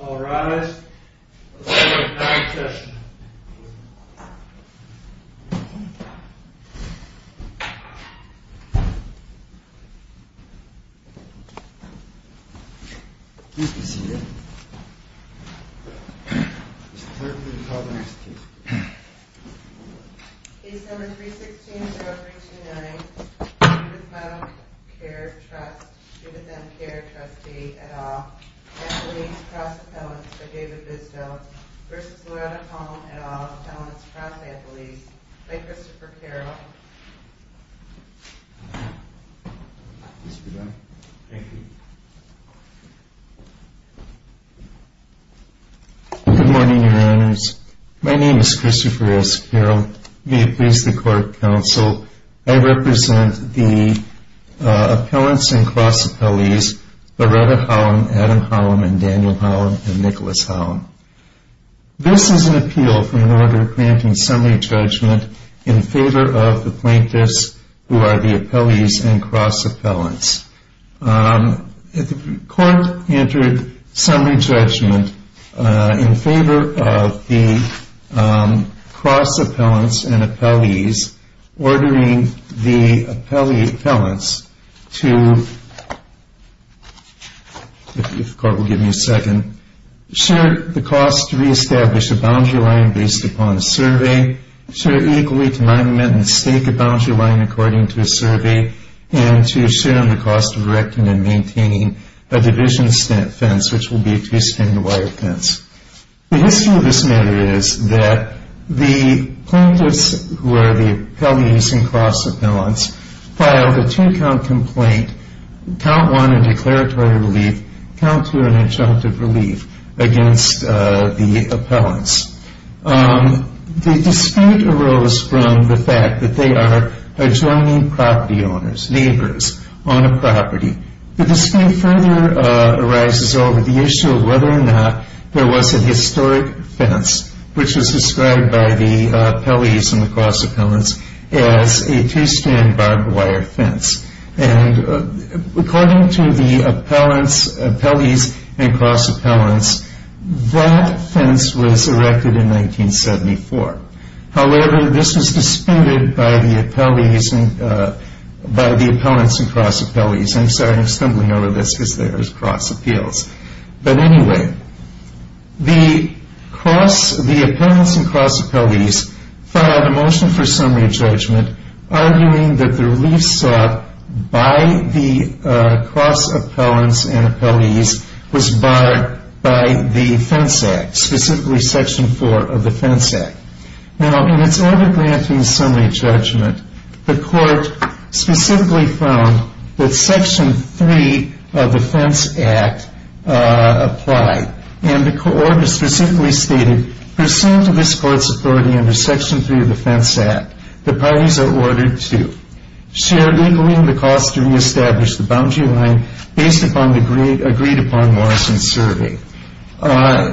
Alright, let's go to the second session. Case number 316-0329, Judith Mottle Kerr Trust v. M. Kerr, Trustee, et al. Anthony's Cross Appellants v. David Bisto v. Loretta Holm, et al. Appellants Cross Ambulees by Christopher Carroll Good morning, Your Honors. My name is Christopher S. Carroll. May it please the Court, Counsel, I represent the appellants and cross appellees Loretta Holm, Adam Holm, Daniel Holm, and Nicholas Holm. This is an appeal for an order granting summary judgment in favor of the plaintiffs who are the appellees and cross appellants. If the Court entered summary judgment in favor of the cross appellants and appellees ordering the appellants to if the Court will give me a second share the cost to reestablish a boundary line based upon a survey share equally to mine, amend, and stake a boundary line according to a survey and to share in the cost of erecting and maintaining a division fence which will be a two-stringed wire fence. The history of this matter is that the plaintiffs who are the appellees and cross appellants filed a two-count complaint count one in declaratory relief count two in adjunctive relief against the appellants. The dispute arose from the fact that they are adjoining property owners, neighbors on a property. The dispute further arises over the issue of whether or not there was a historic fence which was described by the appellees and the cross appellants as a two-string barbed wire fence. According to the appellees and cross appellants that fence was erected in 1974. However, this was disputed by the appellants and cross appellants. I'm sorry, I'm stumbling over this because there is cross appeals. But anyway, the appellants and cross appellates filed a motion for summary judgment arguing that the relief sought by the cross appellants and appellates was barred by the Fence Act, specifically Section 4 of the Fence Act. Now, in its order granting summary judgment, the court specifically found that Section 3 of the Fence Act applied and the court specifically stated pursuant to this court's authority under Section 3 of the Fence Act, the parties are ordered to share legally the cost to reestablish the boundary line based upon the agreed-upon Morrison survey.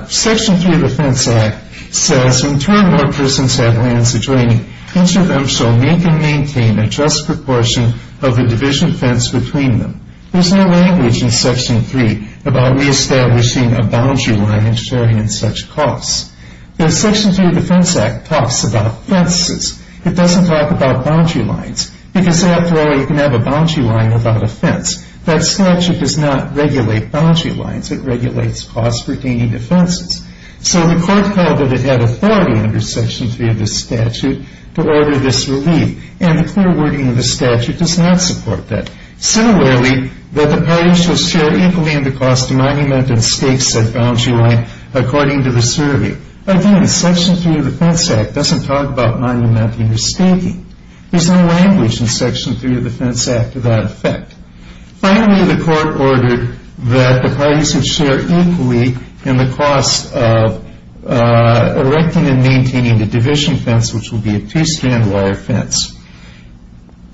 Section 3 of the Fence Act says, in turn, when persons have lands adjoining, each of them shall make and maintain a just proportion of the division fence between them. There's no language in Section 3 about reestablishing a boundary line and sharing in such costs. The Section 3 of the Fence Act talks about fences. It doesn't talk about boundary lines because, after all, you can have a boundary line without a fence. That statute does not regulate boundary lines. It regulates costs pertaining to fences. So the court held that it had authority under Section 3 of the statute to order this relief and the clear wording of the statute does not support that. Similarly, that the parties shall share equally in the cost to monument and stakes that boundary line according to the survey. Again, Section 3 of the Fence Act doesn't talk about monumenting or staking. There's no language in Section 3 of the Fence Act to that effect. Finally, the court ordered that the parties should share equally in the cost of erecting and maintaining the division fence, which will be a two-strand wire fence.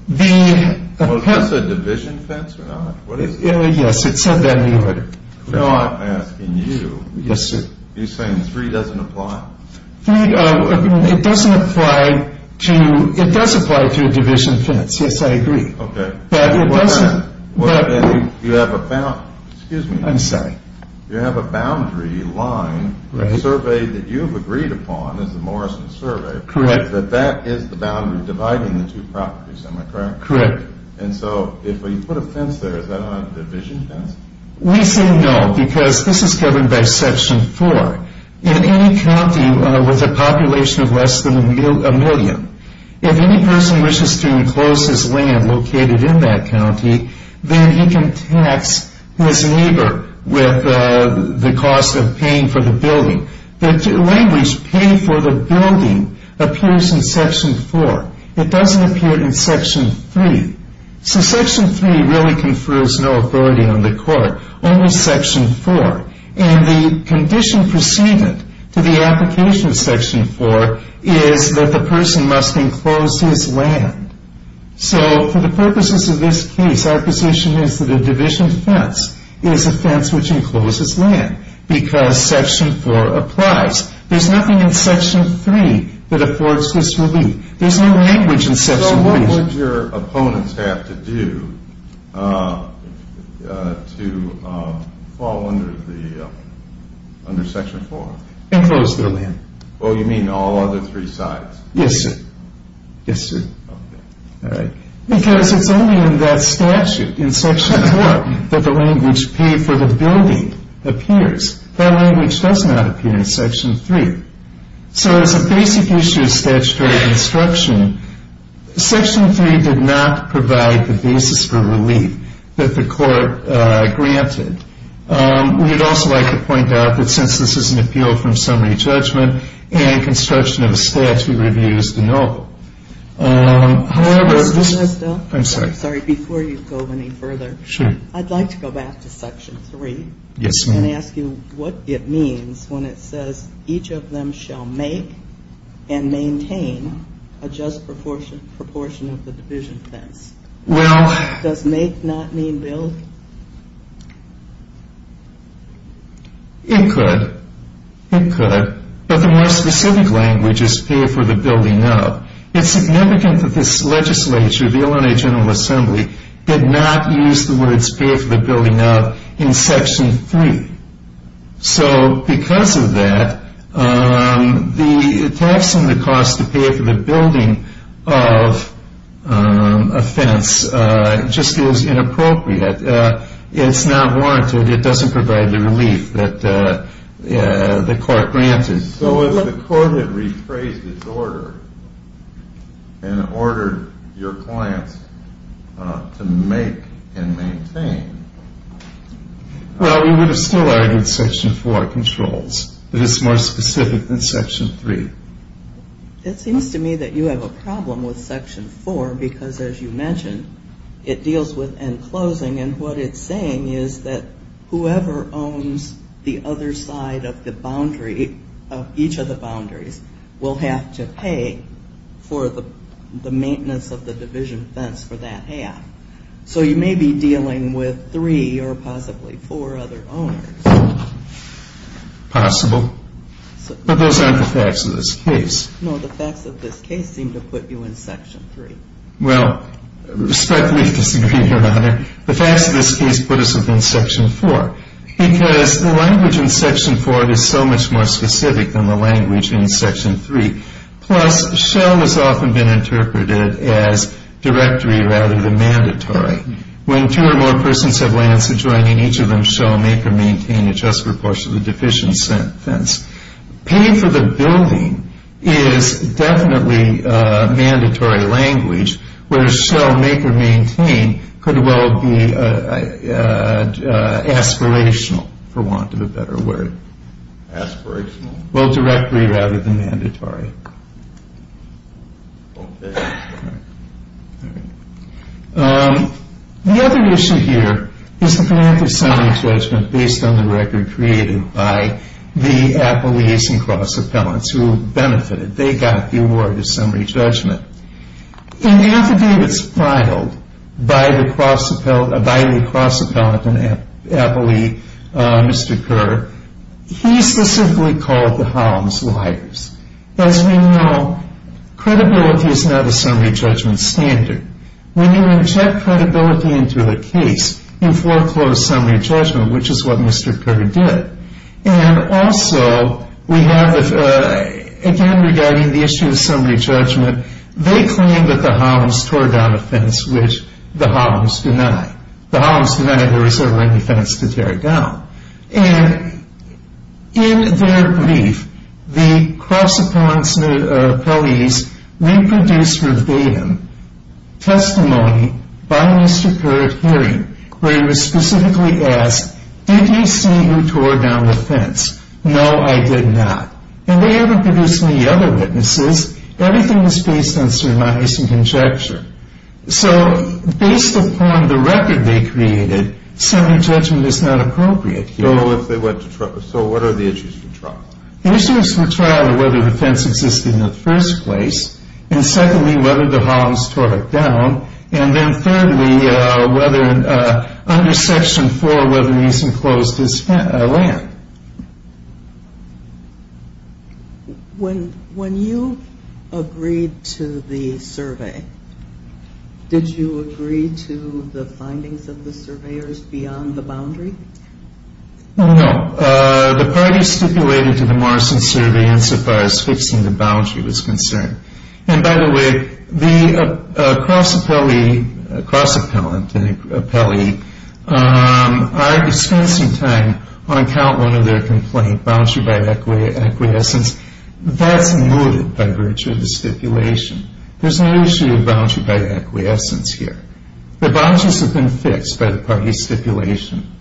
The... Was this a division fence or not? Yes, it said that in the order. Now I'm asking you. Yes, sir. You're saying 3 doesn't apply? It doesn't apply to... It does apply to a division fence. Yes, I agree. Okay. But it doesn't... You have a... Excuse me. I'm sorry. You have a boundary line survey that you've agreed upon as the Morrison Survey. Correct. That that is the boundary dividing the two properties, am I correct? Correct. And so if you put a fence there, is that not a division fence? We say no because this is governed by Section 4. In any county with a population of less than a million, if any person wishes to enclose his land located in that county, then he can tax his neighbor with the cost of paying for the building. The language pay for the building appears in Section 4. It doesn't appear in Section 3. So Section 3 really confers no authority on the court, only Section 4. And the condition preceded to the application of Section 4 is that the person must enclose his land. So for the purposes of this case, our position is that a division fence is a fence which encloses land because Section 4 applies. There's nothing in Section 3 that affords this relief. There's no language in Section 3. So what would your opponents have to do to fall under Section 4? Enclose their land. Oh, you mean all other three sides? Yes, sir. Yes, sir. Okay. All right. Because it's only in that statute in Section 4 that the language pay for the building appears. That language does not appear in Section 3. So as a basic issue of statutory construction, Section 3 did not provide the basis for relief that the court granted. We would also like to point out that since this is an appeal from summary judgment and construction of a statute review is denial. Mr. Nussbaum? I'm sorry. Sorry. Before you go any further, I'd like to go back to Section 3. Yes, ma'am. And ask you what it means when it says, each of them shall make and maintain a just proportion of the division fence. Well. Does make not mean build? It could. It could. But the more specific language is pay for the building of. It's significant that this legislature, the Illinois General Assembly, did not use the words pay for the building of in Section 3. So because of that, the tax and the cost to pay for the building of a fence just is inappropriate. It's not warranted. It doesn't provide the relief that the court granted. So if the court had rephrased its order and ordered your clients to make and maintain. Well, we would have still argued Section 4 controls. But it's more specific than Section 3. It seems to me that you have a problem with Section 4 because, as you mentioned, it deals with enclosing. And what it's saying is that whoever owns the other side of the boundary, of each of the boundaries, will have to pay for the maintenance of the division fence for that half. So you may be dealing with three or possibly four other owners. Possible. But those aren't the facts of this case. No, the facts of this case seem to put you in Section 3. Well, respectfully disagree, Your Honor. The facts of this case put us within Section 4. Because the language in Section 4 is so much more specific than the language in Section 3. Plus, shell has often been interpreted as directory rather than mandatory. When two or more persons have lands adjoining, each of them shall make or maintain a just proportion of the division fence. Paying for the building is definitely mandatory language, whereas shall make or maintain could well be aspirational, for want of a better word. Aspirational? Well, directory rather than mandatory. The other issue here is the financial summary judgment based on the record created by the appellees and cross-appellants who benefited. They got the award of summary judgment. In the affidavits filed by the cross-appellant and appellee, Mr. Kerr, he specifically called the Holloms liars. As we know, credibility is not a summary judgment standard. When you inject credibility into a case, you foreclose summary judgment, which is what Mr. Kerr did. And also, we have again regarding the issue of summary judgment, they claim that the Holloms tore down a fence which the Holloms denied. The Holloms denied there was ever any fence to tear down. And in their brief, the cross-appellant's appellees reproduced verbatim testimony by Mr. Kerr at hearing where he was specifically asked, did you see who tore down the fence? No, I did not. And they haven't produced any other witnesses. Everything was based on surmise and conjecture. So based upon the record they created, summary judgment is not appropriate here. So what are the issues for trial? The issues for trial are whether the fence existed in the first place and, secondly, whether the Holloms tore it down, and then, thirdly, whether under Section 4 whether he's enclosed his land. When you agreed to the survey, did you agree to the findings of the surveyors beyond the boundary? No. No. The parties stipulated to the Morrison survey insofar as fixing the boundary was concerned. And, by the way, the cross-appellant and the appellee are expensing time on account one of their complaint, boundary by acquiescence. That's noted by virtue of the stipulation. There's no issue of boundary by acquiescence here. The boundaries have been fixed by the parties' stipulation.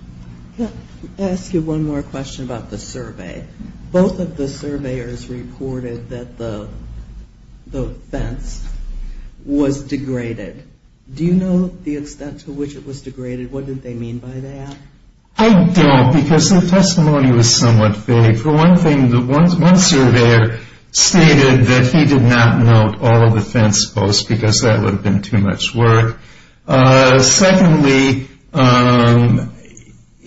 I'll ask you one more question about the survey. Both of the surveyors reported that the fence was degraded. Do you know the extent to which it was degraded? What did they mean by that? I don't because their testimony was somewhat vague. For one thing, one surveyor stated that he did not note all of the fence posts because that would have been too much work. Secondly,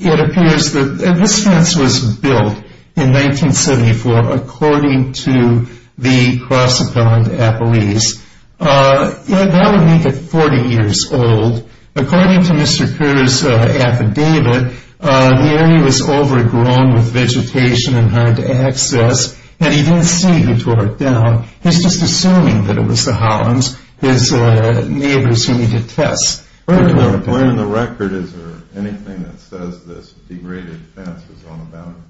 it appears that this fence was built in 1974 according to the cross-appellant appellees. That would make it 40 years old. According to Mr. Kerr's affidavit, the area was overgrown with vegetation and hard to access, and he didn't see who tore it down. He's just assuming that it was the Hollands, his neighbors who needed tests. When in the record is there anything that says this degraded fence was on the boundary?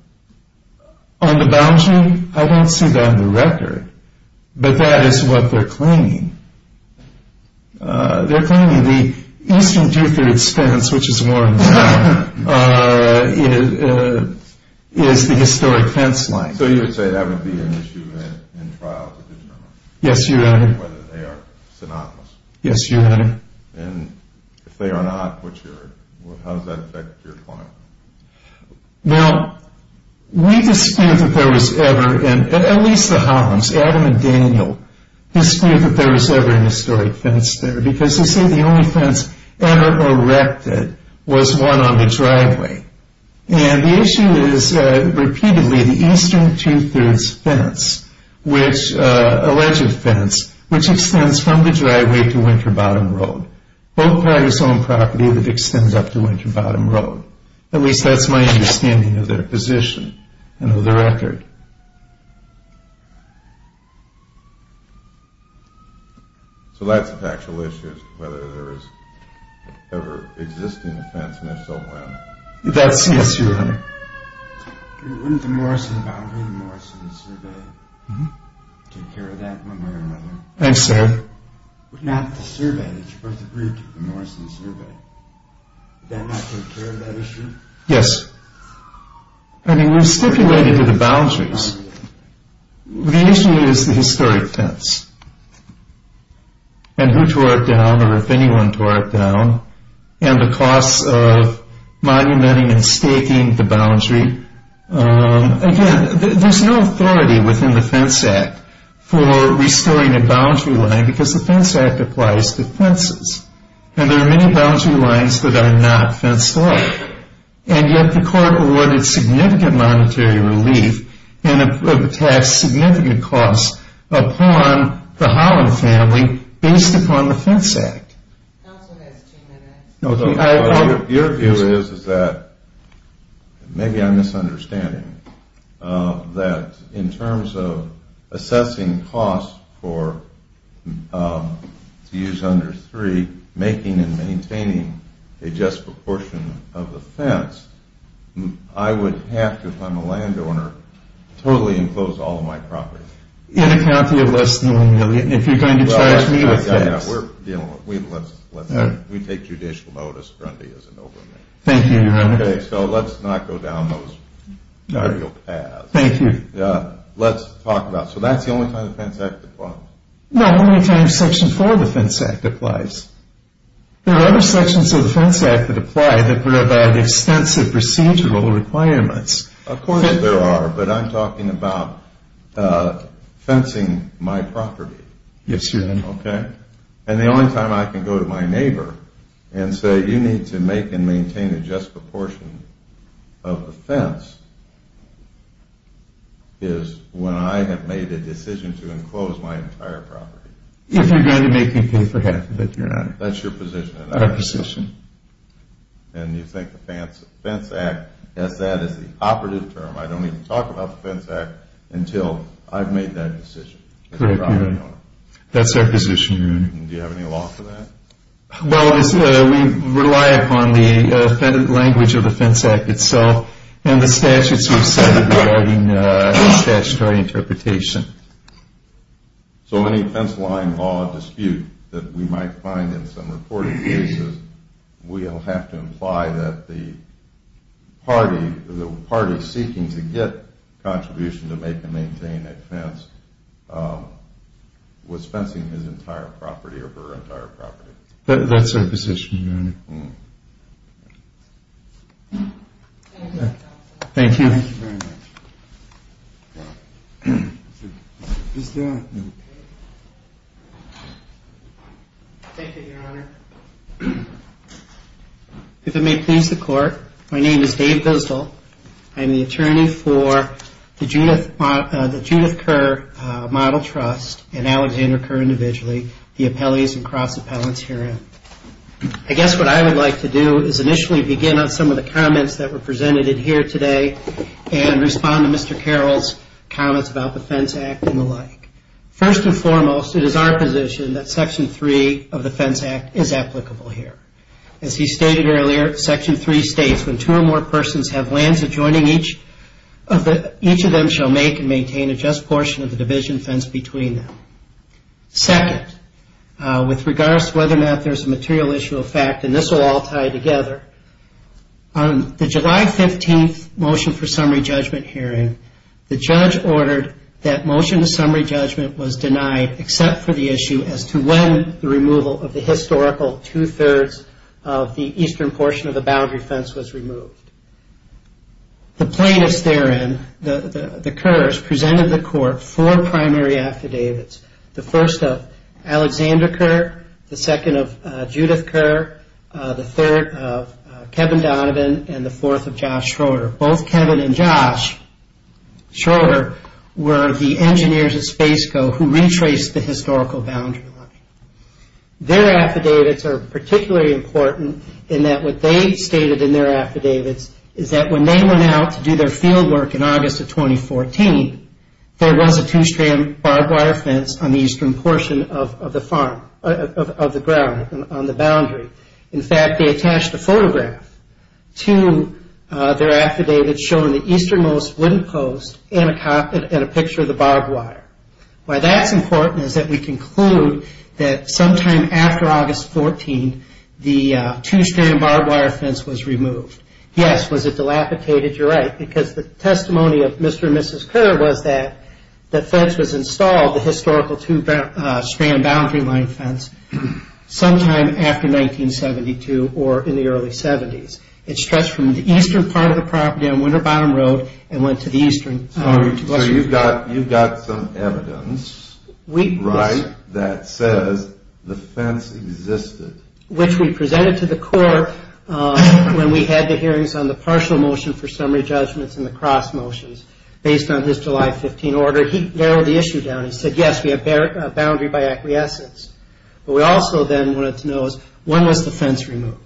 On the boundary? I don't see that on the record. But that is what they're claiming. They're claiming the eastern two-thirds fence, which is more on the south, is the historic fence line. So you would say that would be an issue in trial to determine? Yes, Your Honor. Whether they are synonymous. Yes, Your Honor. And if they are not, how does that affect your client? Now, we dispute that there was ever, at least the Hollands, Adam and Daniel, dispute that there was ever an historic fence there because they say the only fence ever erected was one on the driveway. And the issue is, repeatedly, the eastern two-thirds fence, which, alleged fence, which extends from the driveway to Winter Bottom Road. Both parties own property that extends up to Winter Bottom Road. At least that's my understanding of their position and of the record. So that's a factual issue, whether there is ever an existing fence and if so, when. That's, yes, Your Honor. Wouldn't the Morrison Boundary and the Morrison Survey take care of that one way or another? Thanks, sir. Not the survey, but the Morrison Survey. Would that not take care of that issue? Yes. I mean, we've stipulated the boundaries. The issue is the historic fence and who tore it down or if anyone tore it down and the costs of monumenting and staking the boundary. Again, there's no authority within the Fence Act for restoring a boundary line because the Fence Act applies to fences. And there are many boundary lines that are not fenced off. And yet the court awarded significant monetary relief and taxed significant costs upon the Holland family based upon the Fence Act. Counsel has two minutes. Your view is that, maybe I'm misunderstanding, that in terms of assessing costs to use under three, making and maintaining a just proportion of the fence, I would have to, if I'm a landowner, totally enclose all of my property. In a county of less than one million. If you're going to charge me with this. We take judicial notice. Grundy isn't over me. Thank you, Your Honor. Okay, so let's not go down those ideal paths. Thank you. Let's talk about, so that's the only time the Fence Act applies? No, the only time Section 4 of the Fence Act applies. There are other sections of the Fence Act that apply that provide extensive procedural requirements. Of course there are, but I'm talking about fencing my property. Yes, Your Honor. Okay. And the only time I can go to my neighbor and say, you need to make and maintain a just proportion of the fence, is when I have made a decision to enclose my entire property. If you're going to make me pay for half of it, Your Honor. That's your position. Our position. And you think the Fence Act, as that is the operative term, I don't need to talk about the Fence Act until I've made that decision. Correct, Your Honor. That's our position, Your Honor. Do you have any law for that? Well, we rely upon the language of the Fence Act itself and the statutes we've cited regarding statutory interpretation. So any fence-lying law dispute that we might find in some reported cases, we'll have to imply that the party seeking to get contribution to make and maintain a fence was fencing his entire property or her entire property. That's our position, Your Honor. Thank you. Thank you very much. Thank you, Your Honor. If it may please the Court, my name is Dave Goosdall. I'm the attorney for the Judith Kerr Model Trust and Alexander Kerr Individually, the appellees and cross-appellants herein. I guess what I would like to do is initially begin on some of the comments that were presented here today and respond to Mr. Carroll's comments about the Fence Act and the like. First and foremost, it is our position that Section 3 of the Fence Act is applicable here. As he stated earlier, Section 3 states, when two or more persons have lands adjoining each of them shall make and maintain a just portion of the division fence between them. Second, with regards to whether or not there's a material issue of fact, and this will all tie together, on the July 15th motion for summary judgment hearing, the judge ordered that motion to summary judgment was denied except for the issue as to when the removal of the historical two-thirds of the eastern portion of the boundary fence was removed. The plaintiffs therein, the Kerrs, presented the Court four primary affidavits, the first of Alexander Kerr, the second of Judith Kerr, the third of Kevin Donovan, and the fourth of Josh Schroeder. Both Kevin and Josh Schroeder were the engineers at Spaceco who retraced the historical boundary line. Their affidavits are particularly important in that what they stated in their affidavits is that when they went out to do their field work in August of 2014, there was a two-strand barbed wire fence on the eastern portion of the farm, of the ground, on the boundary. In fact, they attached a photograph to their affidavit showing the easternmost wind post and a picture of the barbed wire. Why that's important is that we conclude that sometime after August 14, the two-strand barbed wire fence was removed. Yes, was it dilapidated? You're right. Because the testimony of Mr. and Mrs. Kerr was that the fence was installed, the historical two-strand boundary line fence, sometime after 1972 or in the early 70s. It stretched from the eastern part of the property on Winter Bottom Road and went to the eastern. So you've got some evidence, right, that says the fence existed. Which we presented to the court when we had the hearings on the partial motion for summary judgments and the cross motions based on his July 15 order. He narrowed the issue down. He said, yes, we have a boundary by acquiescence. But we also then wanted to know is when was the fence removed?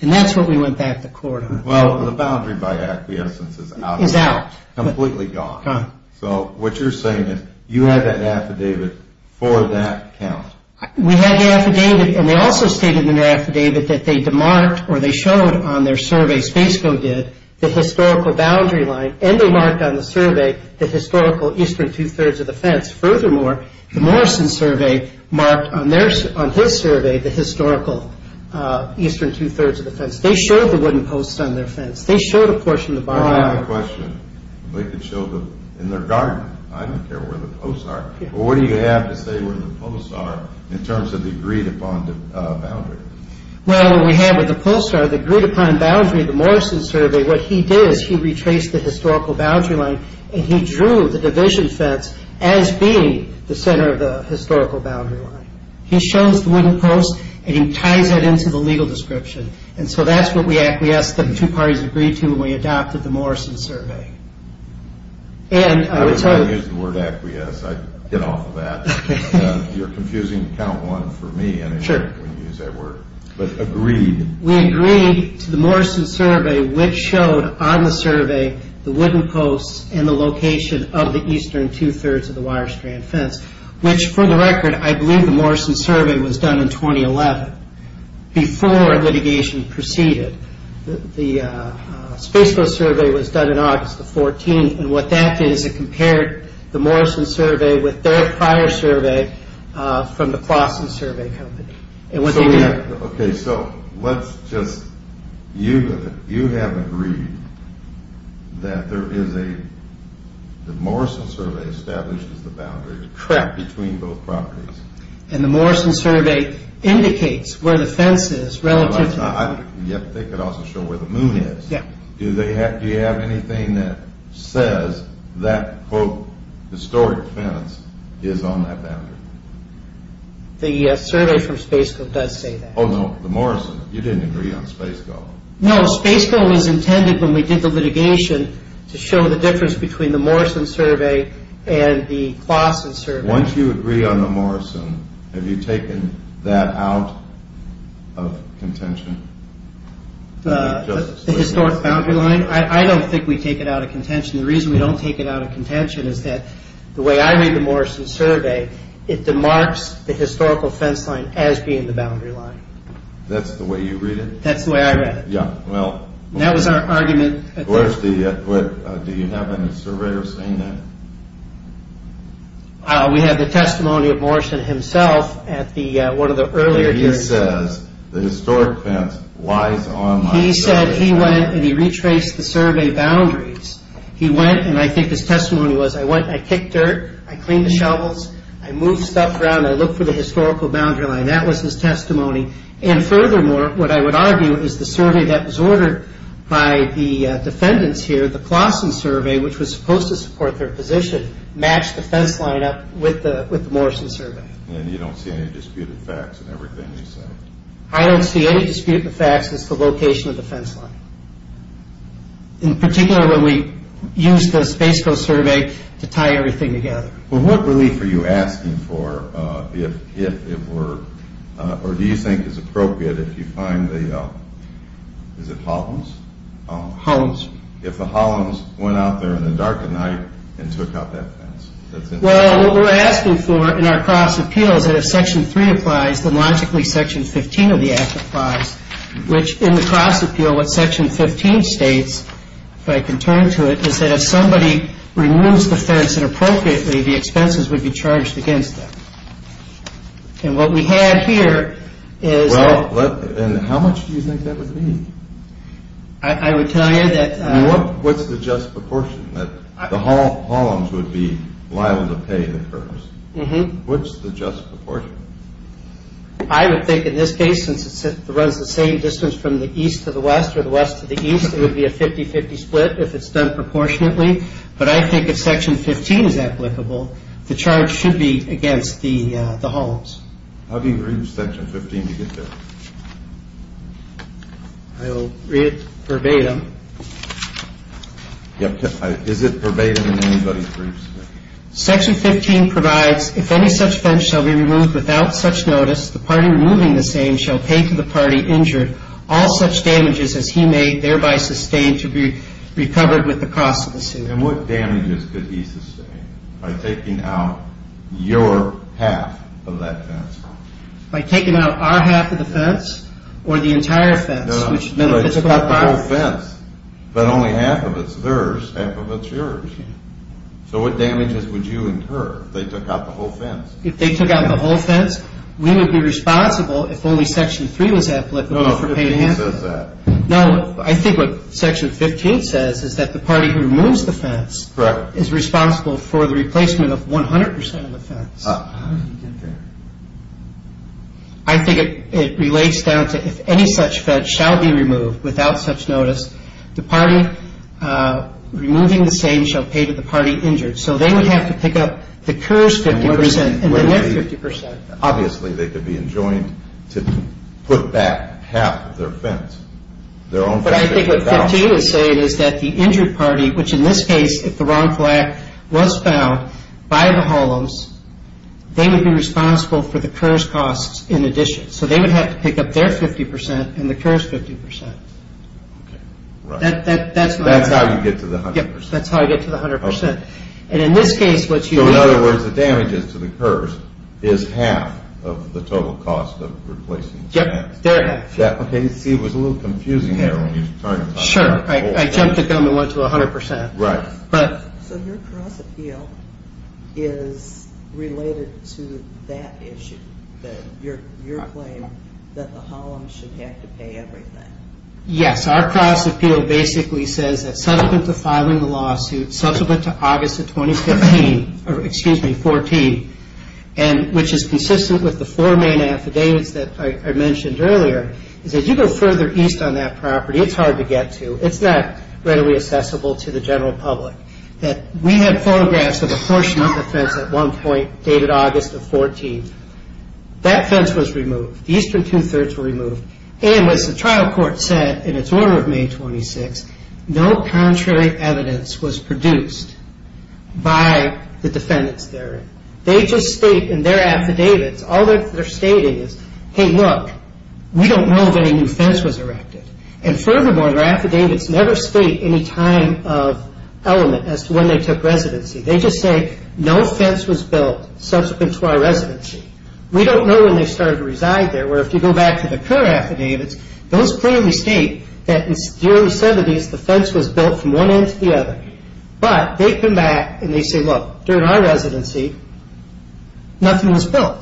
And that's what we went back to court on. Well, the boundary by acquiescence is out. Completely gone. So what you're saying is you had that affidavit for that count. We had the affidavit and they also stated in the affidavit that they demarked or they showed on their survey, Spaceco did, the historical boundary line and they marked on the survey the historical eastern two-thirds of the fence. Furthermore, the Morrison survey marked on his survey the historical eastern two-thirds of the fence. They showed the wooden posts on their fence. They showed a portion of the bottom line. I have a question. They could show them in their garden. I don't care where the posts are. But what do you have to say where the posts are in terms of the agreed upon boundary? Well, what we have are the posts are the agreed upon boundary. The Morrison survey, what he did is he retraced the historical boundary line and he drew the division fence as being the center of the historical boundary line. He shows the wooden posts and he ties that into the legal description. And so that's what we acquiesced that the two parties agreed to when we adopted the Morrison survey. I was going to use the word acquiesce. I'd get off of that. You're confusing count one for me. Sure. When you use that word. But agreed. We agreed to the Morrison survey which showed on the survey the wooden posts and the location of the eastern two-thirds of the wire strand fence, which for the record I believe the Morrison survey was done in 2011 before litigation proceeded. The Space Coast survey was done in August the 14th, and what that did is it compared the Morrison survey with their prior survey from the Claussen Survey Company. Okay, so let's just, you have agreed that there is a, the Morrison survey establishes the boundary between both properties. And the Morrison survey indicates where the fence is relative to the moon. Yep, they could also show where the moon is. Do you have anything that says that quote historic fence is on that boundary? The survey from Space Coast does say that. Oh no, the Morrison. You didn't agree on Space Coast. No, Space Coast was intended when we did the litigation to show the difference between the Morrison survey and the Claussen survey. Once you agree on the Morrison, have you taken that out of contention? The historic boundary line? I don't think we take it out of contention. The reason we don't take it out of contention is that the way I read the Morrison survey it demarks the historical fence line as being the boundary line. That's the way you read it? That's the way I read it. Yeah, well. That was our argument. Do you have any surveyors saying that? We have the testimony of Morrison himself at one of the earlier hearings. He says the historic fence lies on my survey. He said he went and he retraced the survey boundaries. He went and I think his testimony was, I kicked dirt, I cleaned the shovels, I moved stuff around, I looked for the historical boundary line. That was his testimony. And furthermore, what I would argue is the survey that was ordered by the defendants here, the Claussen survey, which was supposed to support their position, matched the fence line up with the Morrison survey. And you don't see any disputed facts in everything you say? I don't see any disputed facts as to the location of the fence line. In particular, when we used the Space Coast survey to tie everything together. Well, what relief are you asking for if it were, or do you think it's appropriate if you find the, is it Holloms? Holloms. If the Holloms went out there in the dark of night and took out that fence. Well, what we're asking for in our cross appeal is that if Section 3 applies, then logically Section 15 of the Act applies, which in the cross appeal what Section 15 states, if I can turn to it, is that if somebody removes the fence inappropriately, the expenses would be charged against them. And what we had here is. Well, and how much do you think that would be? I would tell you that. What's the just proportion? The Holloms would be liable to pay the curbs. What's the just proportion? I would think in this case, since it runs the same distance from the east to the west or the west to the east, it would be a 50-50 split if it's done proportionately. But I think if Section 15 is applicable, the charge should be against the Holloms. How do you read Section 15 to get there? I'll read it verbatim. Is it verbatim in anybody's briefs? Section 15 provides, if any such fence shall be removed without such notice, the party removing the same shall pay to the party injured all such damages as he may thereby sustain to be recovered with the cost of the suit. And what damages could he sustain by taking out your half of that fence? By taking out our half of the fence or the entire fence? No, no. It's not the whole fence, but only half of it's theirs, half of it's yours. So what damages would you incur if they took out the whole fence? If they took out the whole fence, we would be responsible if only Section 3 was applicable for pay to handle it. No, Section 15 says that. No, I think what Section 15 says is that the party who removes the fence is responsible for the replacement of 100% of the fence. How do you get there? I think it relates down to if any such fence shall be removed without such notice, the party removing the same shall pay to the party injured. So they would have to pick up the KERS 50% and the NIF 50%. Obviously, they could be enjoined to put back half of their fence, their own fence. But I think what Section 15 is saying is that the injured party, which in this case if the wrong flag was found by the Holoms, they would be responsible for the KERS costs in addition. So they would have to pick up their 50% and the KERS 50%. That's how you get to the 100%. That's how you get to the 100%. So in other words, the damages to the KERS is half of the total cost of replacing the fence. Yep, they're half. See, it was a little confusing there when you targeted. Sure, I jumped the gun and went to 100%. Right. So your cross-appeal is related to that issue, your claim that the Holoms should have to pay everything. Yes, our cross-appeal basically says that subsequent to filing the lawsuit, subsequent to August of 2015, or excuse me, 14, which is consistent with the four main affidavits that I mentioned earlier, is that you go further east on that property, it's hard to get to, it's not readily accessible to the general public. That we had photographs of a portion of the fence at one point dated August of 14. That fence was removed. The eastern two-thirds were removed. And as the trial court said in its order of May 26, no contrary evidence was produced by the defendants therein. They just state in their affidavits, all they're stating is, hey, look, we don't know if any new fence was erected. And furthermore, their affidavits never state any time of element as to when they took residency. They just say, no fence was built subsequent to our residency. We don't know when they started to reside there, where if you go back to the Kerr affidavits, those clearly state that during the 70s the fence was built from one end to the other. But they come back and they say, look, during our residency, nothing was built.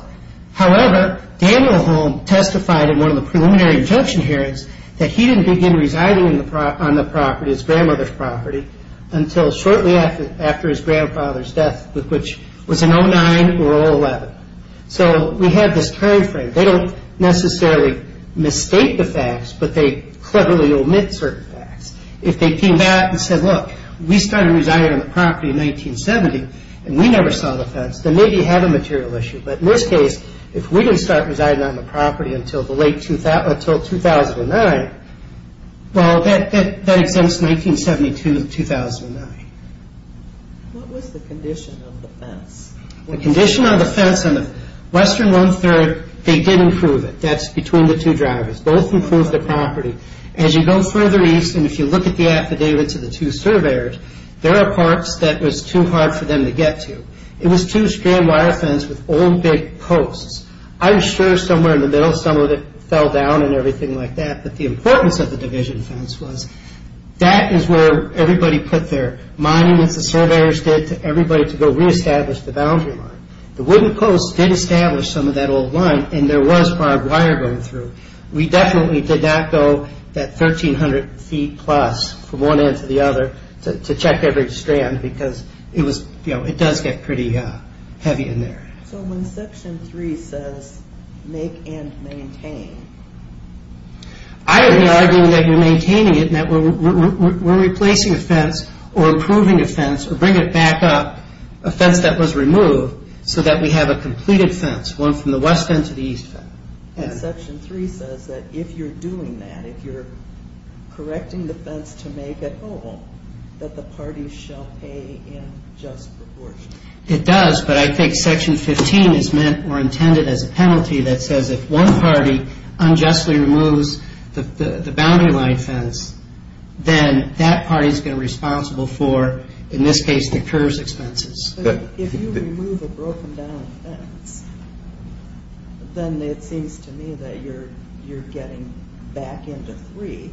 However, Daniel Holm testified in one of the preliminary injunction hearings that he didn't begin residing on the property, his grandmother's property, until shortly after his grandfather's death, which was in 09 or 11. So we have this time frame. They don't necessarily mistake the facts, but they cleverly omit certain facts. If they came back and said, look, we started residing on the property in 1970 and we never saw the fence, then maybe you have a material issue. But in this case, if we didn't start residing on the property until 2009, well, that exempts 1972 to 2009. What was the condition of the fence? The condition of the fence on the western one-third, they did improve it. That's between the two drivers. Both improved the property. As you go further east and if you look at the affidavits of the two surveyors, there are parts that was too hard for them to get to. It was two-strand wire fence with old, big posts. I'm sure somewhere in the middle some of it fell down and everything like that, but the importance of the division fence was that is where everybody put their monuments the surveyors did to everybody to go reestablish the boundary line. The wooden posts did establish some of that old line and there was barbed wire going through. We definitely did not go that 1,300 feet plus from one end to the other to check every strand because it does get pretty heavy in there. When Section 3 says make and maintain, I would be arguing that you're maintaining it and that we're replacing a fence or improving a fence or bring it back up, a fence that was removed, so that we have a completed fence, one from the west end to the east end. Section 3 says that if you're doing that, if you're correcting the fence to make it whole, that the party shall pay in just proportion. It does, but I think Section 15 is meant or intended as a penalty that says if one party unjustly removes the boundary line fence, then that party is going to be responsible for, in this case, the curves expenses. If you remove a broken down fence, then it seems to me that you're getting back into 3.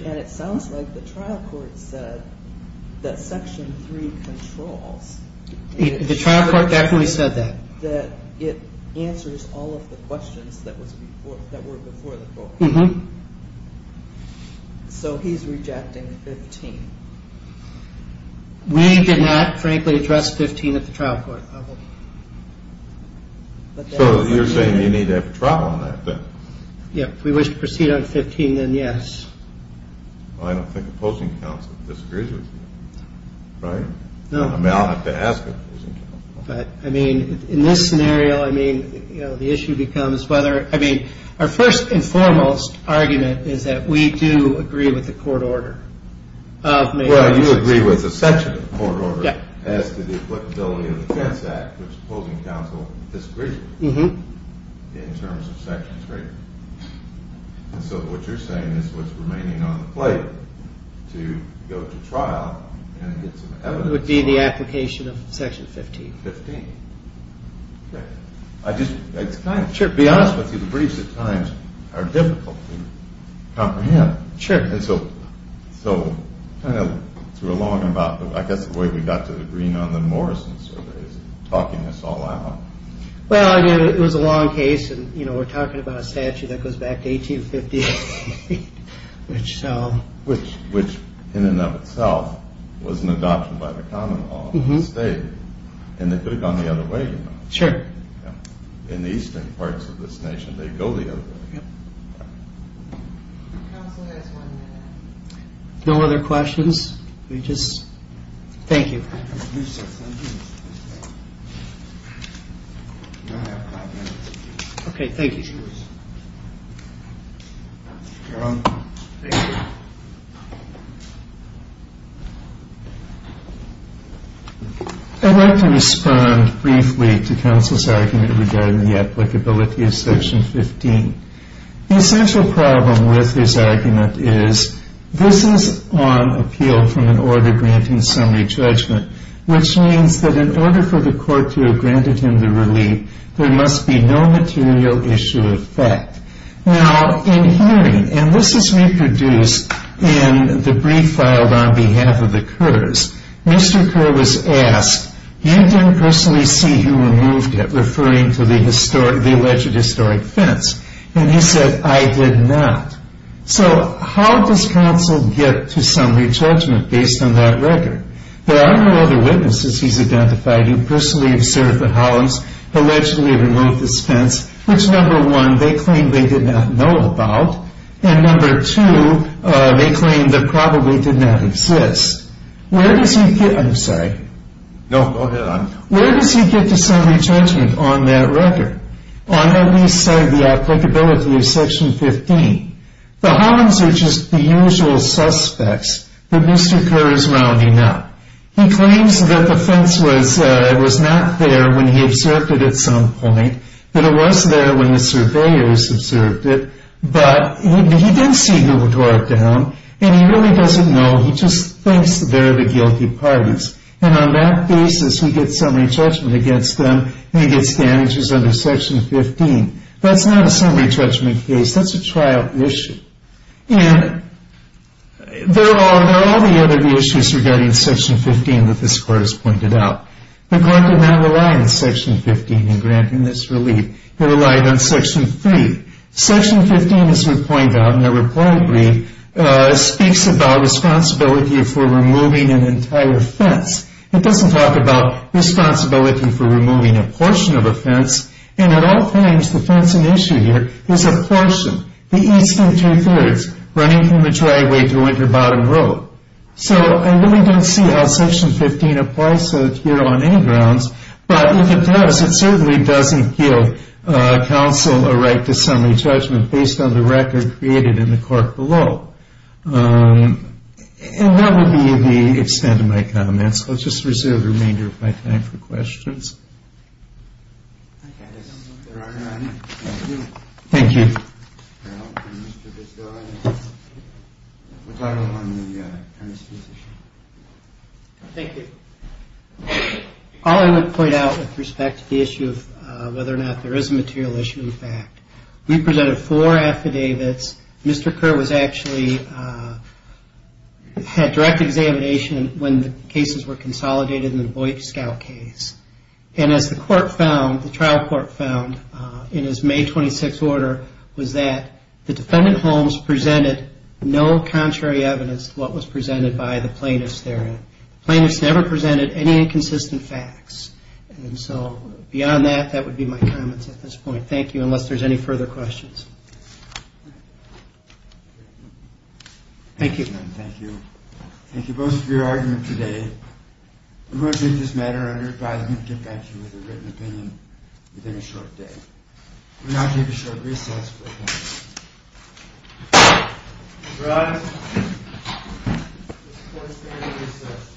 It sounds like the trial court said that Section 3 controls. The trial court definitely said that. It answers all of the questions that were before the court. So he's rejecting 15. We did not frankly address 15 at the trial court level. So you're saying you need to have a trial on that then? Yeah, if we wish to proceed on 15, then yes. I don't think a posting council disagrees with you, right? No. I mean, I'll have to ask a posting council. But, I mean, in this scenario, I mean, you know, the issue becomes whether, I mean, our first and foremost argument is that we do agree with the court order. Well, you agree with a section of the court order as to the applicability of the Fence Act, which the posting council disagrees with, in terms of Section 3. And so what you're saying is what's remaining on the plate to go to trial and get some evidence for it. It would be the application of Section 15. 15. Okay. I just want to be honest with you. The briefs at times are difficult to comprehend. Sure. And so kind of through a long and about, I guess the way we got to the green on the Morrison survey is talking us all out. Well, again, it was a long case, and, you know, we're talking about a statute that goes back to 1858, which so. Which, in and of itself, was an adoption by the common law of the state. And they could have gone the other way, you know. Sure. In the eastern parts of this nation, they'd go the other way. Yep. Council has one minute. No other questions? We just. Thank you. Okay. Thank you. I'd like to respond briefly to Council's argument regarding the applicability of Section 15. The essential problem with this argument is this is on appeal from an order granting summary judgment, which means that in order for the court to have granted him the relief, there must be no material issue of fact. Now, in hearing, and this is reproduced in the brief filed on behalf of the Kerrs, Mr. Kerr was asked, you didn't personally see who removed it, referring to the historic, the alleged historic fence. And he said, I did not. So how does Council get to summary judgment based on that record? There are no other witnesses he's identified who personally observed that Hollings allegedly removed this fence, which, number one, they claim they did not know about, and number two, they claim that probably did not exist. Where does he get, I'm sorry. No, go ahead. Where does he get the summary judgment on that record, on at least the applicability of Section 15? The Hollings are just the usual suspects that Mr. Kerr is rounding up. He claims that the fence was not there when he observed it at some point, that it was there when the surveyors observed it, but he didn't see who tore it down, and he really doesn't know. He just thinks they're the guilty parties. And on that basis, he gets summary judgment against them and he gets damages under Section 15. That's not a summary judgment case. That's a trial issue. And there are all the other issues regarding Section 15 that this Court has pointed out. The Court did not rely on Section 15 in granting this relief. It relied on Section 3. Section 15, as we point out in the report I read, speaks about responsibility for removing an entire fence. It doesn't talk about responsibility for removing a portion of a fence. And at all times, the fencing issue here is a portion, the eastern two-thirds, running from the driveway to Winter Bottom Road. So I really don't see how Section 15 applies here on any grounds. But if it does, it certainly doesn't give counsel a right to summary judgment based on the record created in the court below. And that would be the extent of my comments. I'll just reserve the remainder of my time for questions. Thank you. Thank you. All I want to point out with respect to the issue of whether or not there is a material issue in fact, we presented four affidavits. Mr. Kerr was actually at direct examination when the cases were consolidated in the Boyk-Scout case. And as the court found, the trial court found in his May 26th order, was that the defendant Holmes presented no contrary evidence to what was presented by the plaintiffs therein. The plaintiffs never presented any inconsistent facts. And so beyond that, that would be my comments at this point. Thank you, unless there's any further questions. Thank you. Thank you. Thank you both for your argument today. I'm going to leave this matter under advisement of defense with a written opinion within a short day. And I'll take a short recess for a moment. Your Honor, this court is adjourned at recess.